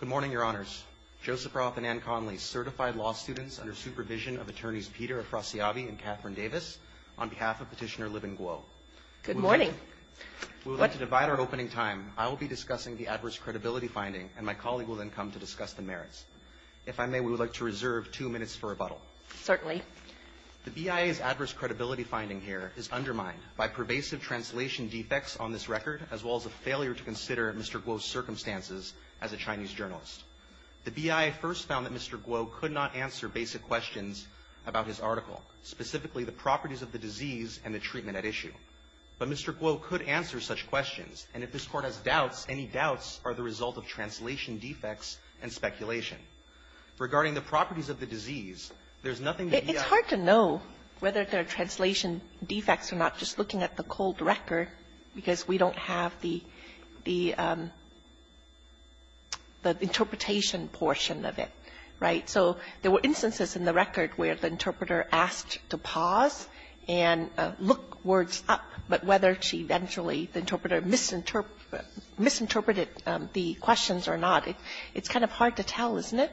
Good morning, Your Honors. Joseph Roth and Ann Conley, certified law students under supervision of Attorneys Peter Afrasiabi and Katherine Davis, on behalf of Petitioner Libin Guo. Good morning. We would like to divide our opening time. I will be discussing the adverse credibility finding, and my colleague will then come to discuss the merits. If I may, we would like to reserve two minutes for rebuttal. Certainly. The BIA's adverse credibility finding here is undermined by pervasive translation defects on this record, as well as a failure to consider Mr. Guo's circumstances as a Chinese journalist. The BIA first found that Mr. Guo could not answer basic questions about his article, specifically the properties of the disease and the treatment at issue. But Mr. Guo could answer such questions, and if this Court has doubts, any doubts are the result of translation defects and speculation. Regarding the properties of the disease, there's nothing the BIA can do. It's hard to know whether there are translation defects or not just looking at the cold record, because we don't have the interpretation portion of it. Right? So there were instances in the record where the interpreter asked to pause and look words up, but whether she eventually, the interpreter, misinterpreted the questions or not, it's kind of hard to tell, isn't it?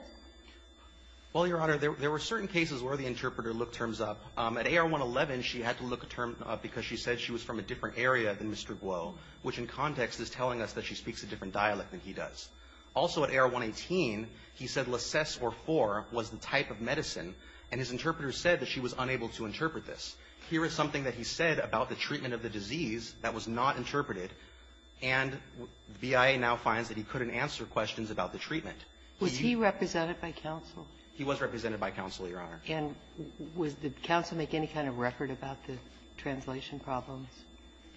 Well, Your Honor, there were certain cases where the interpreter looked terms up. At AR-111, she had to look a term up because she said she was from a different area than Mr. Guo, which in context is telling us that she speaks a different dialect than he does. Also at AR-118, he said leces or for was the type of medicine, and his interpreter said that she was unable to interpret this. Here is something that he said about the treatment of the disease that was not interpreted, and the BIA now finds that he couldn't answer questions about the treatment. Was he represented by counsel? He was represented by counsel, Your Honor. And did counsel make any kind of record about the translation problems?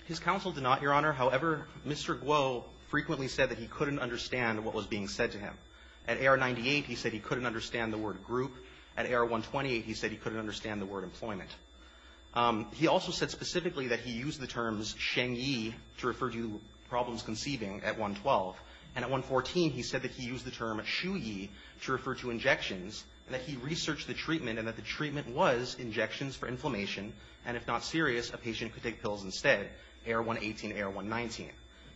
His counsel did not, Your Honor. However, Mr. Guo frequently said that he couldn't understand what was being said to him. At AR-98, he said he couldn't understand the word group. At AR-128, he said he couldn't understand the word employment. He also said specifically that he used the terms shengyi to refer to problems conceiving at AR-112, and at AR-114, he said that he used the term shuyi to refer to injections, and that he researched the treatment and that the treatment was injections for inflammation, and if not serious, a patient could take pills instead. AR-118, AR-119.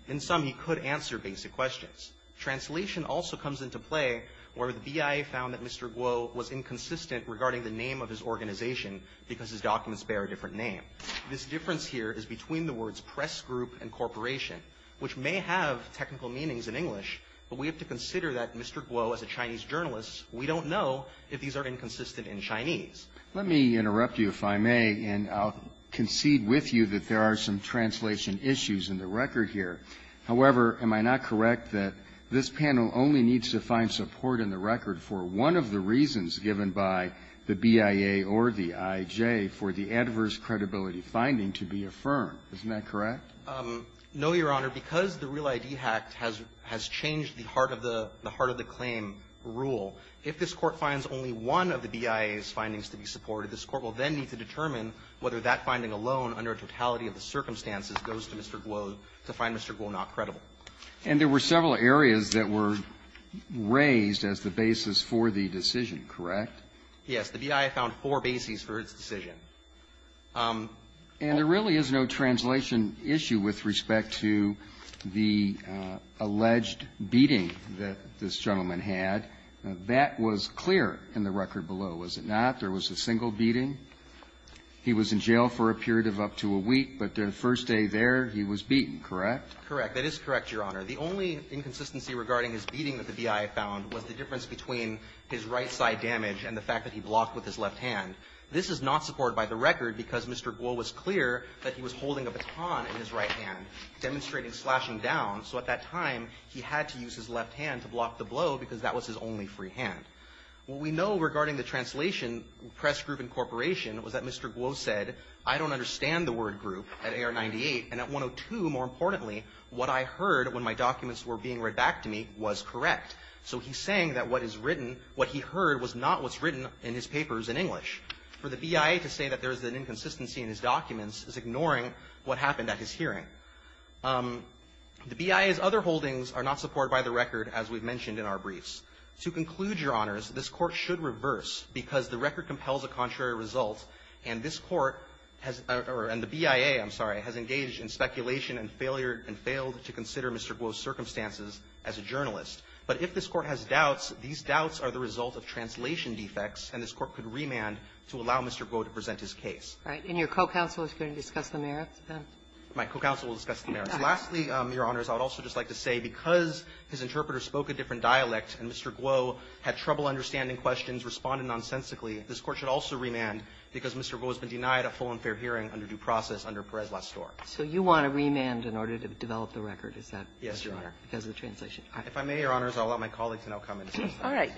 In sum, he could answer basic questions. Translation also comes into play where the BIA found that Mr. Guo was inconsistent regarding the name of his organization because his documents bear a different name. This difference here is between the words press group and corporation, which may have technical meanings in English, but we have to consider that Mr. Guo, as a Chinese journalist, we don't know if these are inconsistent in Chinese. Let me interrupt you, if I may, and I'll concede with you that there are some translation issues in the record here. However, am I not correct that this panel only needs to find support in the record for one of the reasons given by the BIA or the IJ for the adverse credibility finding to be affirmed? Isn't that correct? No, Your Honor. Because the Real ID Act has changed the heart of the claim rule, if this Court finds only one of the BIA's findings to be supported, this Court will then need to determine whether that finding alone, under a totality of the circumstances, goes to Mr. Guo to find Mr. Guo not credible. And there were several areas that were raised as the basis for the decision, correct? Yes. The BIA found four bases for its decision. And there really is no translation issue with respect to the alleged beating that this gentleman had. That was clear in the record below, was it not? There was a single beating. He was in jail for a period of up to a week. But the first day there, he was beaten, correct? Correct. That is correct, Your Honor. The only inconsistency regarding his beating that the BIA found was the difference between his right side damage and the fact that he blocked with his left hand. This is not supported by the record because Mr. Guo was clear that he was holding a baton in his right hand, demonstrating slashing down. So at that time, he had to use his left hand to block the blow because that was his only free hand. What we know regarding the translation press group incorporation was that Mr. Guo said, I don't understand the word group at AR-98. And at 102, more importantly, what I heard when my documents were being read back to me was correct. So he's saying that what is written, what he heard was not what's written in his papers in English. For the BIA to say that there is an inconsistency in his documents is ignoring what happened at his hearing. The BIA's other holdings are not supported by the record, as we've mentioned in our briefs. To conclude, Your Honors, this Court should reverse because the record compels a contrary result. And this Court has or the BIA, I'm sorry, has engaged in speculation and failed to consider Mr. Guo's circumstances as a journalist. But if this Court has doubts, these doubts are the result of translation defects, and this Court could remand to allow Mr. Guo to present his case. And your co-counsel is going to discuss the merits? My co-counsel will discuss the merits. Lastly, Your Honors, I would also just like to say because his interpreter spoke a different dialect and Mr. Guo had trouble understanding questions, responded nonsensically, this Court should also remand because Mr. Guo has been denied a full and fair hearing under due process under Perez last story. So you want to remand in order to develop the record. Is that right? Yes, Your Honor. Because of the translation. If I may, Your Honors, I'll allow my colleague to now come and discuss that.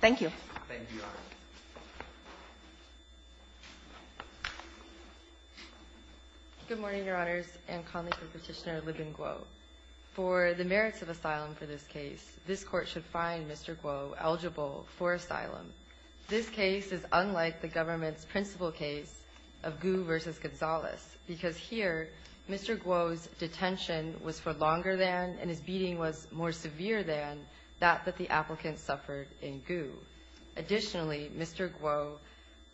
Thank you. Thank you, Your Honors. Good morning, Your Honors. Good morning, Your Honors. For the merits of asylum for this case, this Court should find Mr. Guo eligible for asylum. This case is unlike the government's principal case of Gu versus Gonzalez because here Mr. Guo's detention was for longer than and his beating was more severe than that that the applicant suffered in Gu. Additionally, Mr. Guo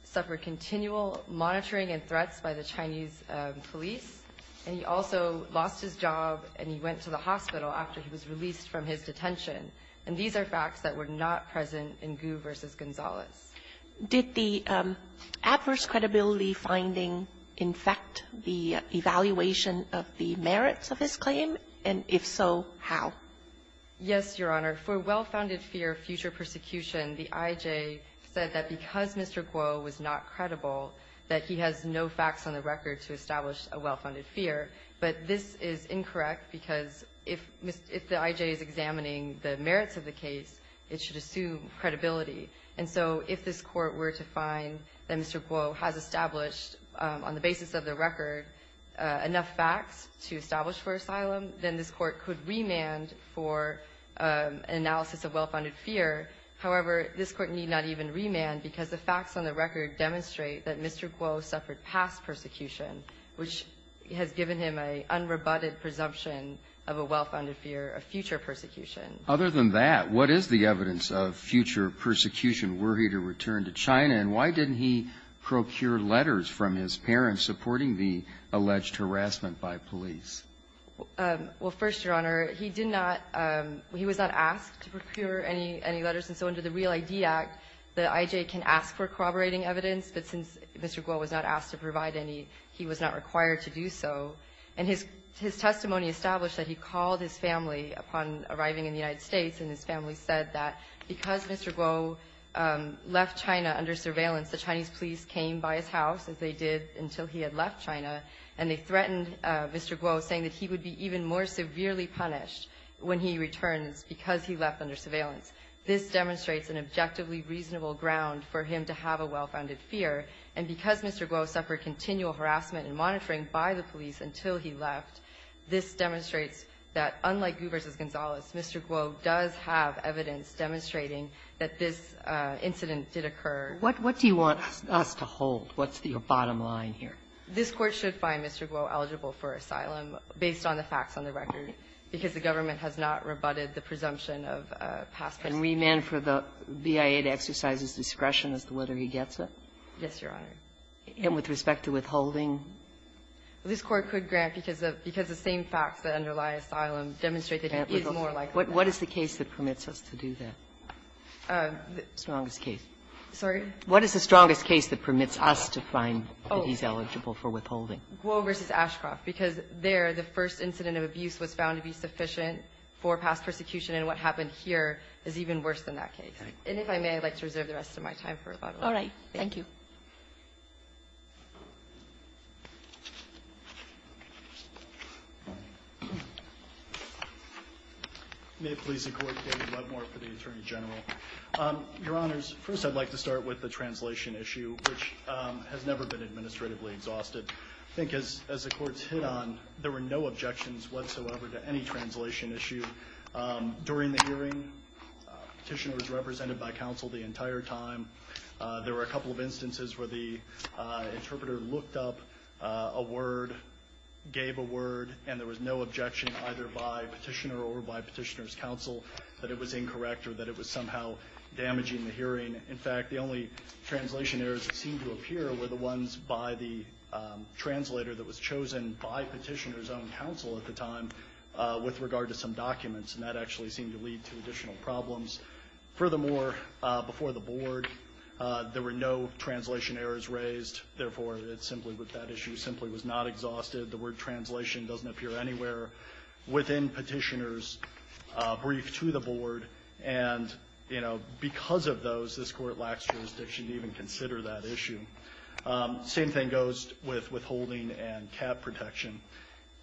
suffered continual monitoring and threats by the Chinese police, and he also lost his job and he went to the hospital after he was released from his detention. And these are facts that were not present in Gu versus Gonzalez. Did the adverse credibility finding infect the evaluation of the merits of his claim? And if so, how? Yes, Your Honor. For well-founded fear of future persecution, the IJ said that because Mr. Guo has established a well-founded fear. But this is incorrect because if the IJ is examining the merits of the case, it should assume credibility. And so if this Court were to find that Mr. Guo has established, on the basis of the record, enough facts to establish for asylum, then this Court could remand for analysis of well-founded fear. However, this Court need not even remand because the facts on the record demonstrate that Mr. Guo suffered past persecution, which has given him an unrebutted presumption of a well-founded fear of future persecution. Other than that, what is the evidence of future persecution? Were he to return to China? And why didn't he procure letters from his parents supporting the alleged harassment by police? Well, first, Your Honor, he did not he was not asked to procure any letters. And so under the Real ID Act, the IJ can ask for corroborating evidence, but since Mr. Guo was not asked to provide any, he was not required to do so. And his testimony established that he called his family upon arriving in the United States, and his family said that because Mr. Guo left China under surveillance, the Chinese police came by his house, as they did until he had left China, and they threatened Mr. Guo, saying that he would be even more severely punished when he returns because he left under surveillance. This demonstrates an objectively reasonable ground for him to have a well-founded fear. And because Mr. Guo suffered continual harassment and monitoring by the police until he left, this demonstrates that, unlike Gu v. Gonzalez, Mr. Guo does have evidence demonstrating that this incident did occur. What do you want us to hold? What's your bottom line here? This Court should find Mr. Guo eligible for asylum based on the facts on the record because the government has not rebutted the presumption of a past person. And remand for the BIA to exercise his discretion as to whether he gets it? Yes, Your Honor. And with respect to withholding? This Court could grant because the same facts that underlie asylum demonstrate that he is more likely to get it. What is the case that permits us to do that? Strongest case. Sorry? What is the strongest case that permits us to find that he's eligible for withholding? Guo v. Ashcroft. Because there, the first incident of abuse was found to be sufficient for past persecution, and what happened here is even worse than that case. And if I may, I'd like to reserve the rest of my time for rebuttal. All right. Thank you. May it please the Court, David Webmore for the Attorney General. Your Honors, first I'd like to start with the translation issue, which has never been administratively exhausted. I think as the Court's hit on, there were no objections whatsoever to any translation issue. During the hearing, Petitioner was represented by counsel the entire time. There were a couple of instances where the interpreter looked up a word, gave a word, and there was no objection either by Petitioner or by Petitioner's counsel that it was In fact, the only translation errors that seemed to appear were the ones by the translator that was chosen by Petitioner's own counsel at the time with regard to some documents, and that actually seemed to lead to additional problems. Furthermore, before the Board, there were no translation errors raised. Therefore, it's simply with that issue simply was not exhausted. The word translation doesn't appear anywhere within Petitioner's brief to the Board. And, you know, because of those, this Court lacks jurisdiction to even consider that issue. Same thing goes with withholding and cap protection.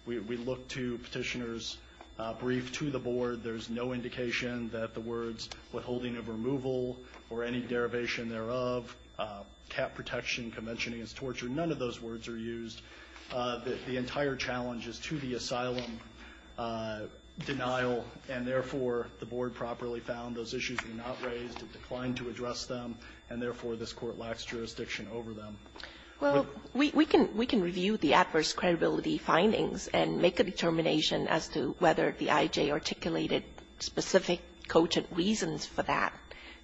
We look to Petitioner's brief to the Board. There's no indication that the words withholding of removal or any derivation thereof, cap protection, convention against torture, none of those words are used. The entire challenge is to the asylum denial, and therefore, the Board properly found those issues were not raised. It declined to address them, and therefore, this Court lacks jurisdiction over them. Kagan. Well, we can review the adverse credibility findings and make a determination as to whether the IJ articulated specific quotient reasons for that.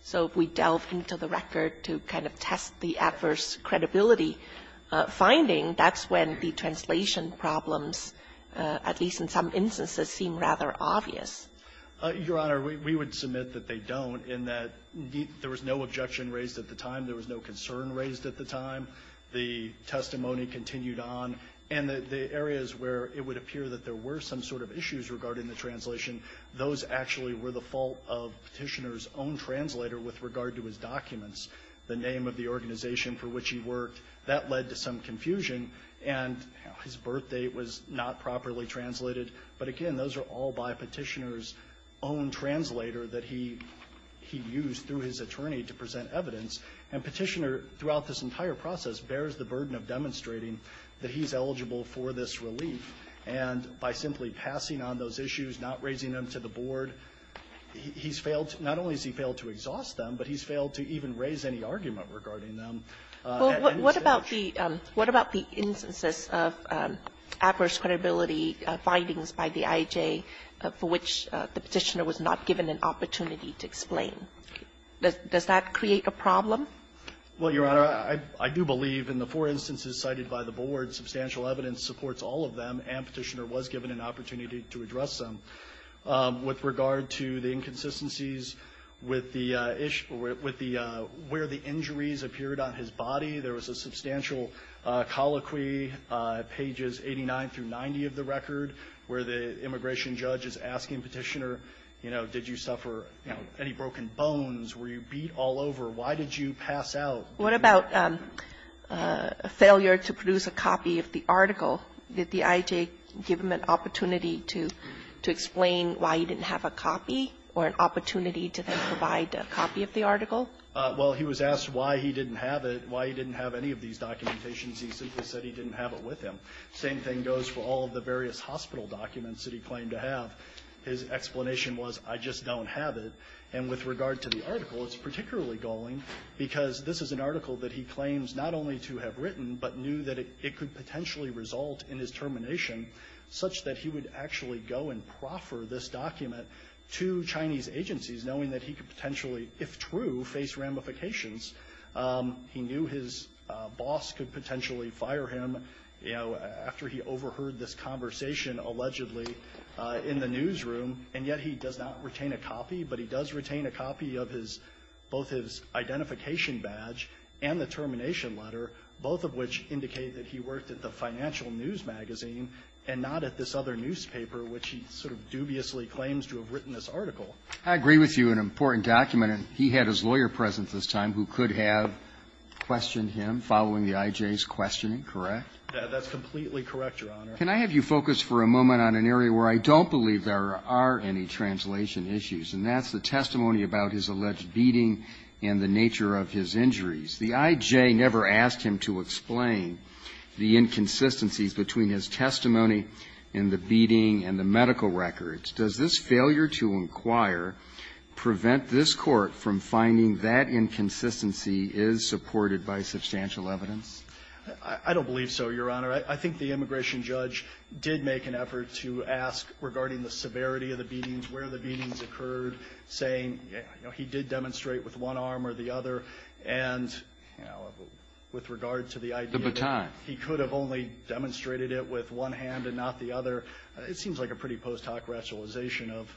So if we delve into the record to kind of test the adverse credibility finding, that's when the translation problems, at least in some instances, seem rather obvious. Your Honor, we would submit that they don't, in that there was no objection raised at the time, there was no concern raised at the time, the testimony continued on, and the areas where it would appear that there were some sort of issues regarding the translation, those actually were the fault of Petitioner's own translator with regard to his documents. The name of the organization for which he worked, that led to some confusion, and his birth date was not properly translated. But again, those are all by Petitioner's own translator that he used through his attorney to present evidence. And Petitioner, throughout this entire process, bears the burden of demonstrating that he's eligible for this relief. And by simply passing on those issues, not raising them to the board, he's failed to – not only has he failed to exhaust them, but he's failed to even raise any argument regarding them at any stage. What about the – what about the instances of adverse credibility findings by the IJ for which the Petitioner was not given an opportunity to explain? Does that create a problem? Well, Your Honor, I do believe in the four instances cited by the board, substantial evidence supports all of them, and Petitioner was given an opportunity to address them. With regard to the inconsistencies with the – where the injuries appeared on his body, there was a substantial colloquy, pages 89 through 90 of the record, where the immigration judge is asking Petitioner, you know, did you suffer, you know, any broken bones? Were you beat all over? Why did you pass out? What about failure to produce a copy of the article? Did the IJ give him an opportunity to explain why he didn't have a copy or an opportunity to then provide a copy of the article? Well, he was asked why he didn't have it, why he didn't have any of these documentations. He simply said he didn't have it with him. Same thing goes for all of the various hospital documents that he claimed to have. His explanation was, I just don't have it. And with regard to the article, it's particularly galling, because this is an article that he claims not only to have written, but knew that it could potentially result in his termination, such that he would actually go and proffer this document to Chinese agencies, knowing that he could potentially, if true, face ramifications. He knew his boss could potentially fire him, you know, after he overheard this conversation allegedly in the newsroom, and yet he does not retain a copy, but he does retain a copy of his – both his identification badge and the termination letter, both of which indicate that he worked at the Financial News magazine and not at this other newspaper, which he sort of dubiously claims to have written this article. I agree with you. An important document, and he had his lawyer present this time who could have questioned him following the IJ's questioning, correct? That's completely correct, Your Honor. Can I have you focus for a moment on an area where I don't believe there are any translation issues, and that's the testimony about his alleged beating and the nature of his injuries. The IJ never asked him to explain the inconsistencies between his testimony in the beating and the medical records. Does this failure to inquire prevent this Court from finding that inconsistency is supported by substantial evidence? I don't believe so, Your Honor. I think the immigration judge did make an effort to ask regarding the severity of the beatings, where the beatings occurred, saying, you know, he did demonstrate with one arm or the other, and, you know, with regard to the idea that he could have only demonstrated it with one hand and not the other, it seems like a pretty post hoc rationalization of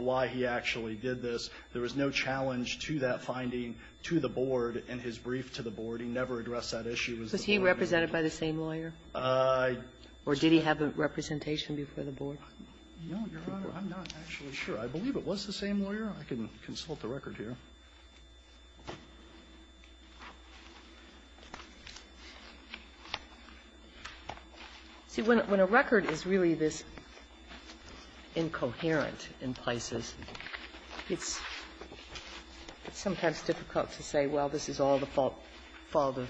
why he actually did this. There was no challenge to that finding to the board in his brief to the board. He never addressed that issue. Was he represented by the same lawyer? Or did he have a representation before the board? No, Your Honor. I'm not actually sure. I believe it was the same lawyer. I can consult the record here. See, when a record is really this incoherent in places, it's sometimes difficult to say, well, this is all the fault of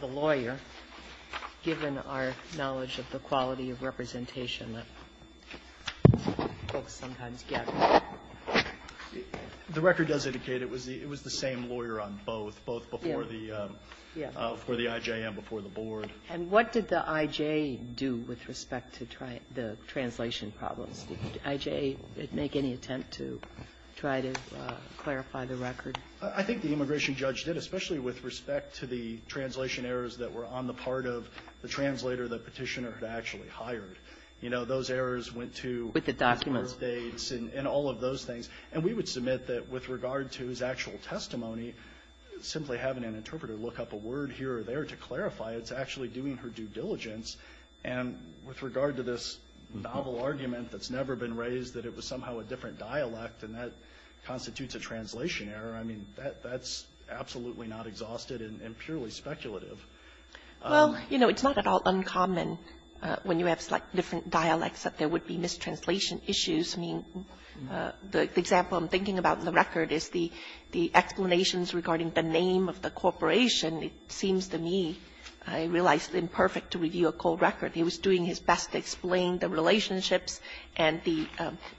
the lawyer, given our knowledge of the quality of representation that folks sometimes get. The record does indicate it was the same lawyer on both, both before the IJ and before the board. And what did the IJ do with respect to the translation problems? Did the IJ make any attempt to try to clarify the record? I think the immigration judge did, especially with respect to the translation errors that were on the part of the translator the Petitioner had actually hired. You know, those errors went to his birth dates and all of those things. And we would submit that with regard to his actual testimony, simply having an interpreter look up a word here or there to clarify, it's actually doing her due diligence. And with regard to this novel argument that's never been raised, that it was somehow a different dialect and that constitutes a translation error, I mean, that's absolutely not exhausted and purely speculative. Well, you know, it's not at all uncommon when you have slightly different dialects that there would be mistranslation issues. I mean, the example I'm thinking about in the record is the explanations regarding the name of the corporation. It seems to me, I realize, imperfect to review a cold record. He was doing his best to explain the relationships and the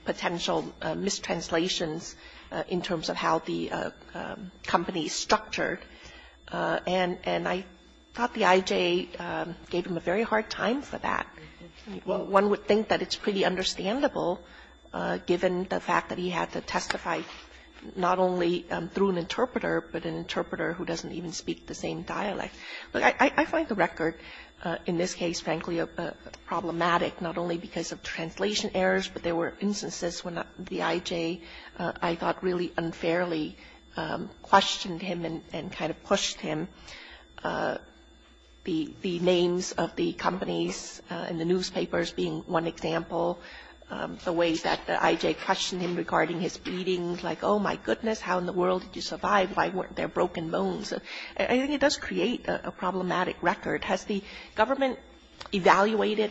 potential mistranslations in terms of how the company is structured. And I thought the IJ gave him a very hard time for that. One would think that it's pretty understandable, given the fact that he had to testify not only through an interpreter, but an interpreter who doesn't even speak the same dialect. I find the record in this case, frankly, problematic, not only because of translation errors, but there were instances when the IJ, I thought, really unfairly questioned him and kind of pushed him. The names of the companies in the newspapers being one example, the way that the IJ questioned him regarding his beatings, like, oh, my goodness, how in the world did you survive? Why weren't there broken bones? I think it does create a problematic record. Has the government evaluated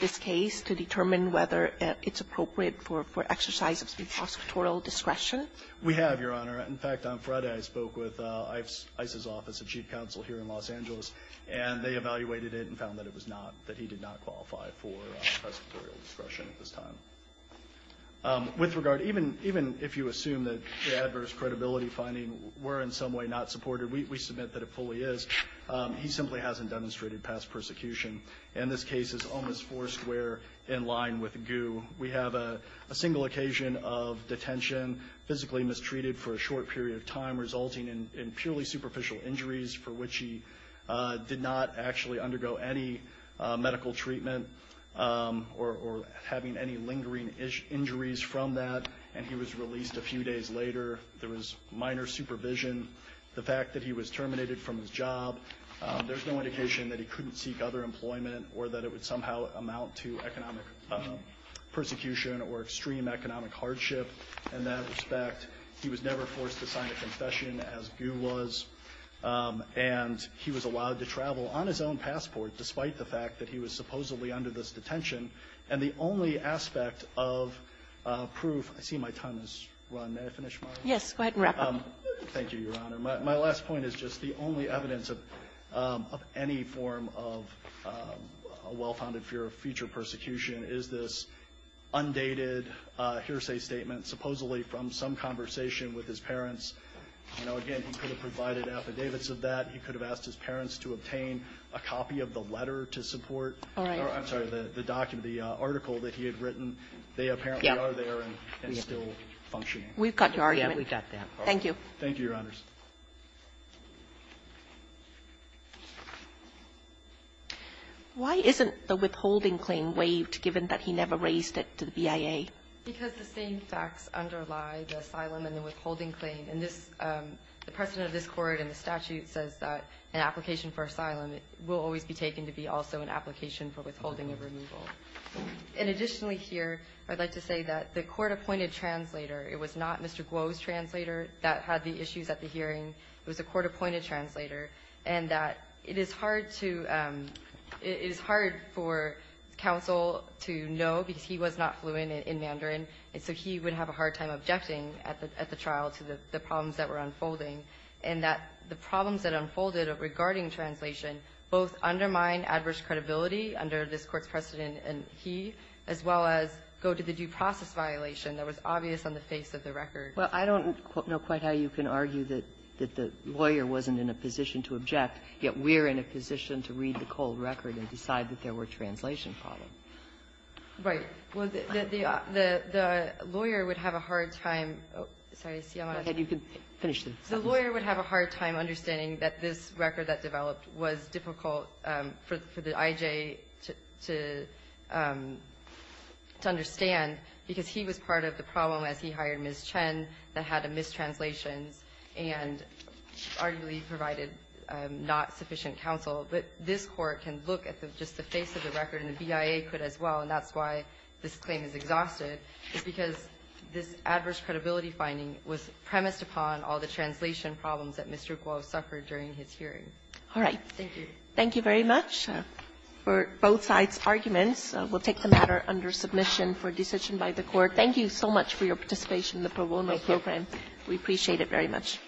this case to determine whether it's appropriate for exercise of prosecutorial discretion? We have, Your Honor. In fact, on Friday I spoke with ICE's office, the chief counsel here in Los Angeles, and they evaluated it and found that it was not, that he did not qualify for prosecutorial discretion at this time. With regard, even if you assume that the adverse credibility finding were in some way not supported, we submit that it fully is. He simply hasn't demonstrated past persecution. And this case is almost foursquare in line with GU. We have a single occasion of detention, physically mistreated for a short period of time, resulting in purely superficial injuries for which he did not actually undergo any medical treatment or having any lingering injuries from that. And he was released a few days later. There was minor supervision. The fact that he was terminated from his job, there's no indication that he couldn't seek other employment or that it would somehow amount to economic persecution or extreme economic hardship. In that respect, he was never forced to sign a confession, as GU was. And he was allowed to travel on his own passport despite the fact that he was supposedly under this detention, and the only aspect of proof --" I see my time has run. May I finish, Mara? Kagan. Yes. Go ahead and wrap up. Thank you, Your Honor. My last point is just the only evidence of any form of a well-founded fear of future persecution is this undated hearsay statement supposedly from some conversation with his parents. You know, again, he could have provided affidavits of that. He could have asked his parents to obtain a copy of the letter to support. I'm sorry, the document, the article that he had written. They apparently are there and still functioning. We've got your argument. Yeah, we've got that. Thank you. Thank you, Your Honors. Why isn't the withholding claim waived given that he never raised it to the BIA? Because the same facts underlie the asylum and the withholding claim. And this the precedent of this Court and the statute says that an application for asylum will always be taken to be also an application for withholding of removal. And additionally here, I'd like to say that the court-appointed translator, it was not Mr. Guo's translator that had the issues at the hearing. It was the court-appointed translator, and that it is hard to – it is hard for counsel to know because he was not fluent in Mandarin, and so he would have a hard time objecting at the trial to the problems that were unfolding. And that the problems that unfolded regarding translation both undermine adverse credibility under this Court's precedent, and he, as well as go to the due process violation that was obvious on the face of the record. Well, I don't know quite how you can argue that the lawyer wasn't in a position to object, yet we're in a position to read the cold record and decide that there was a poor translation problem. Right. Well, the lawyer would have a hard time – sorry, see, I'm out of time. Go ahead. You can finish the sentence. The lawyer would have a hard time understanding that this record that developed was difficult for the IJ to understand because he was part of the problem as he hired Ms. Chen that had mistranslations and arguably provided not sufficient counsel. But this Court can look at just the face of the record and the BIA could as well, and that's why this claim is exhausted, is because this adverse credibility finding was premised upon all the translation problems that Mr. Guo suffered during his hearing. All right. Thank you. Thank you very much for both sides' arguments. We'll take the matter under submission for decision by the Court. Thank you so much for your participation in the pro bono program. Thank you. We appreciate it very much.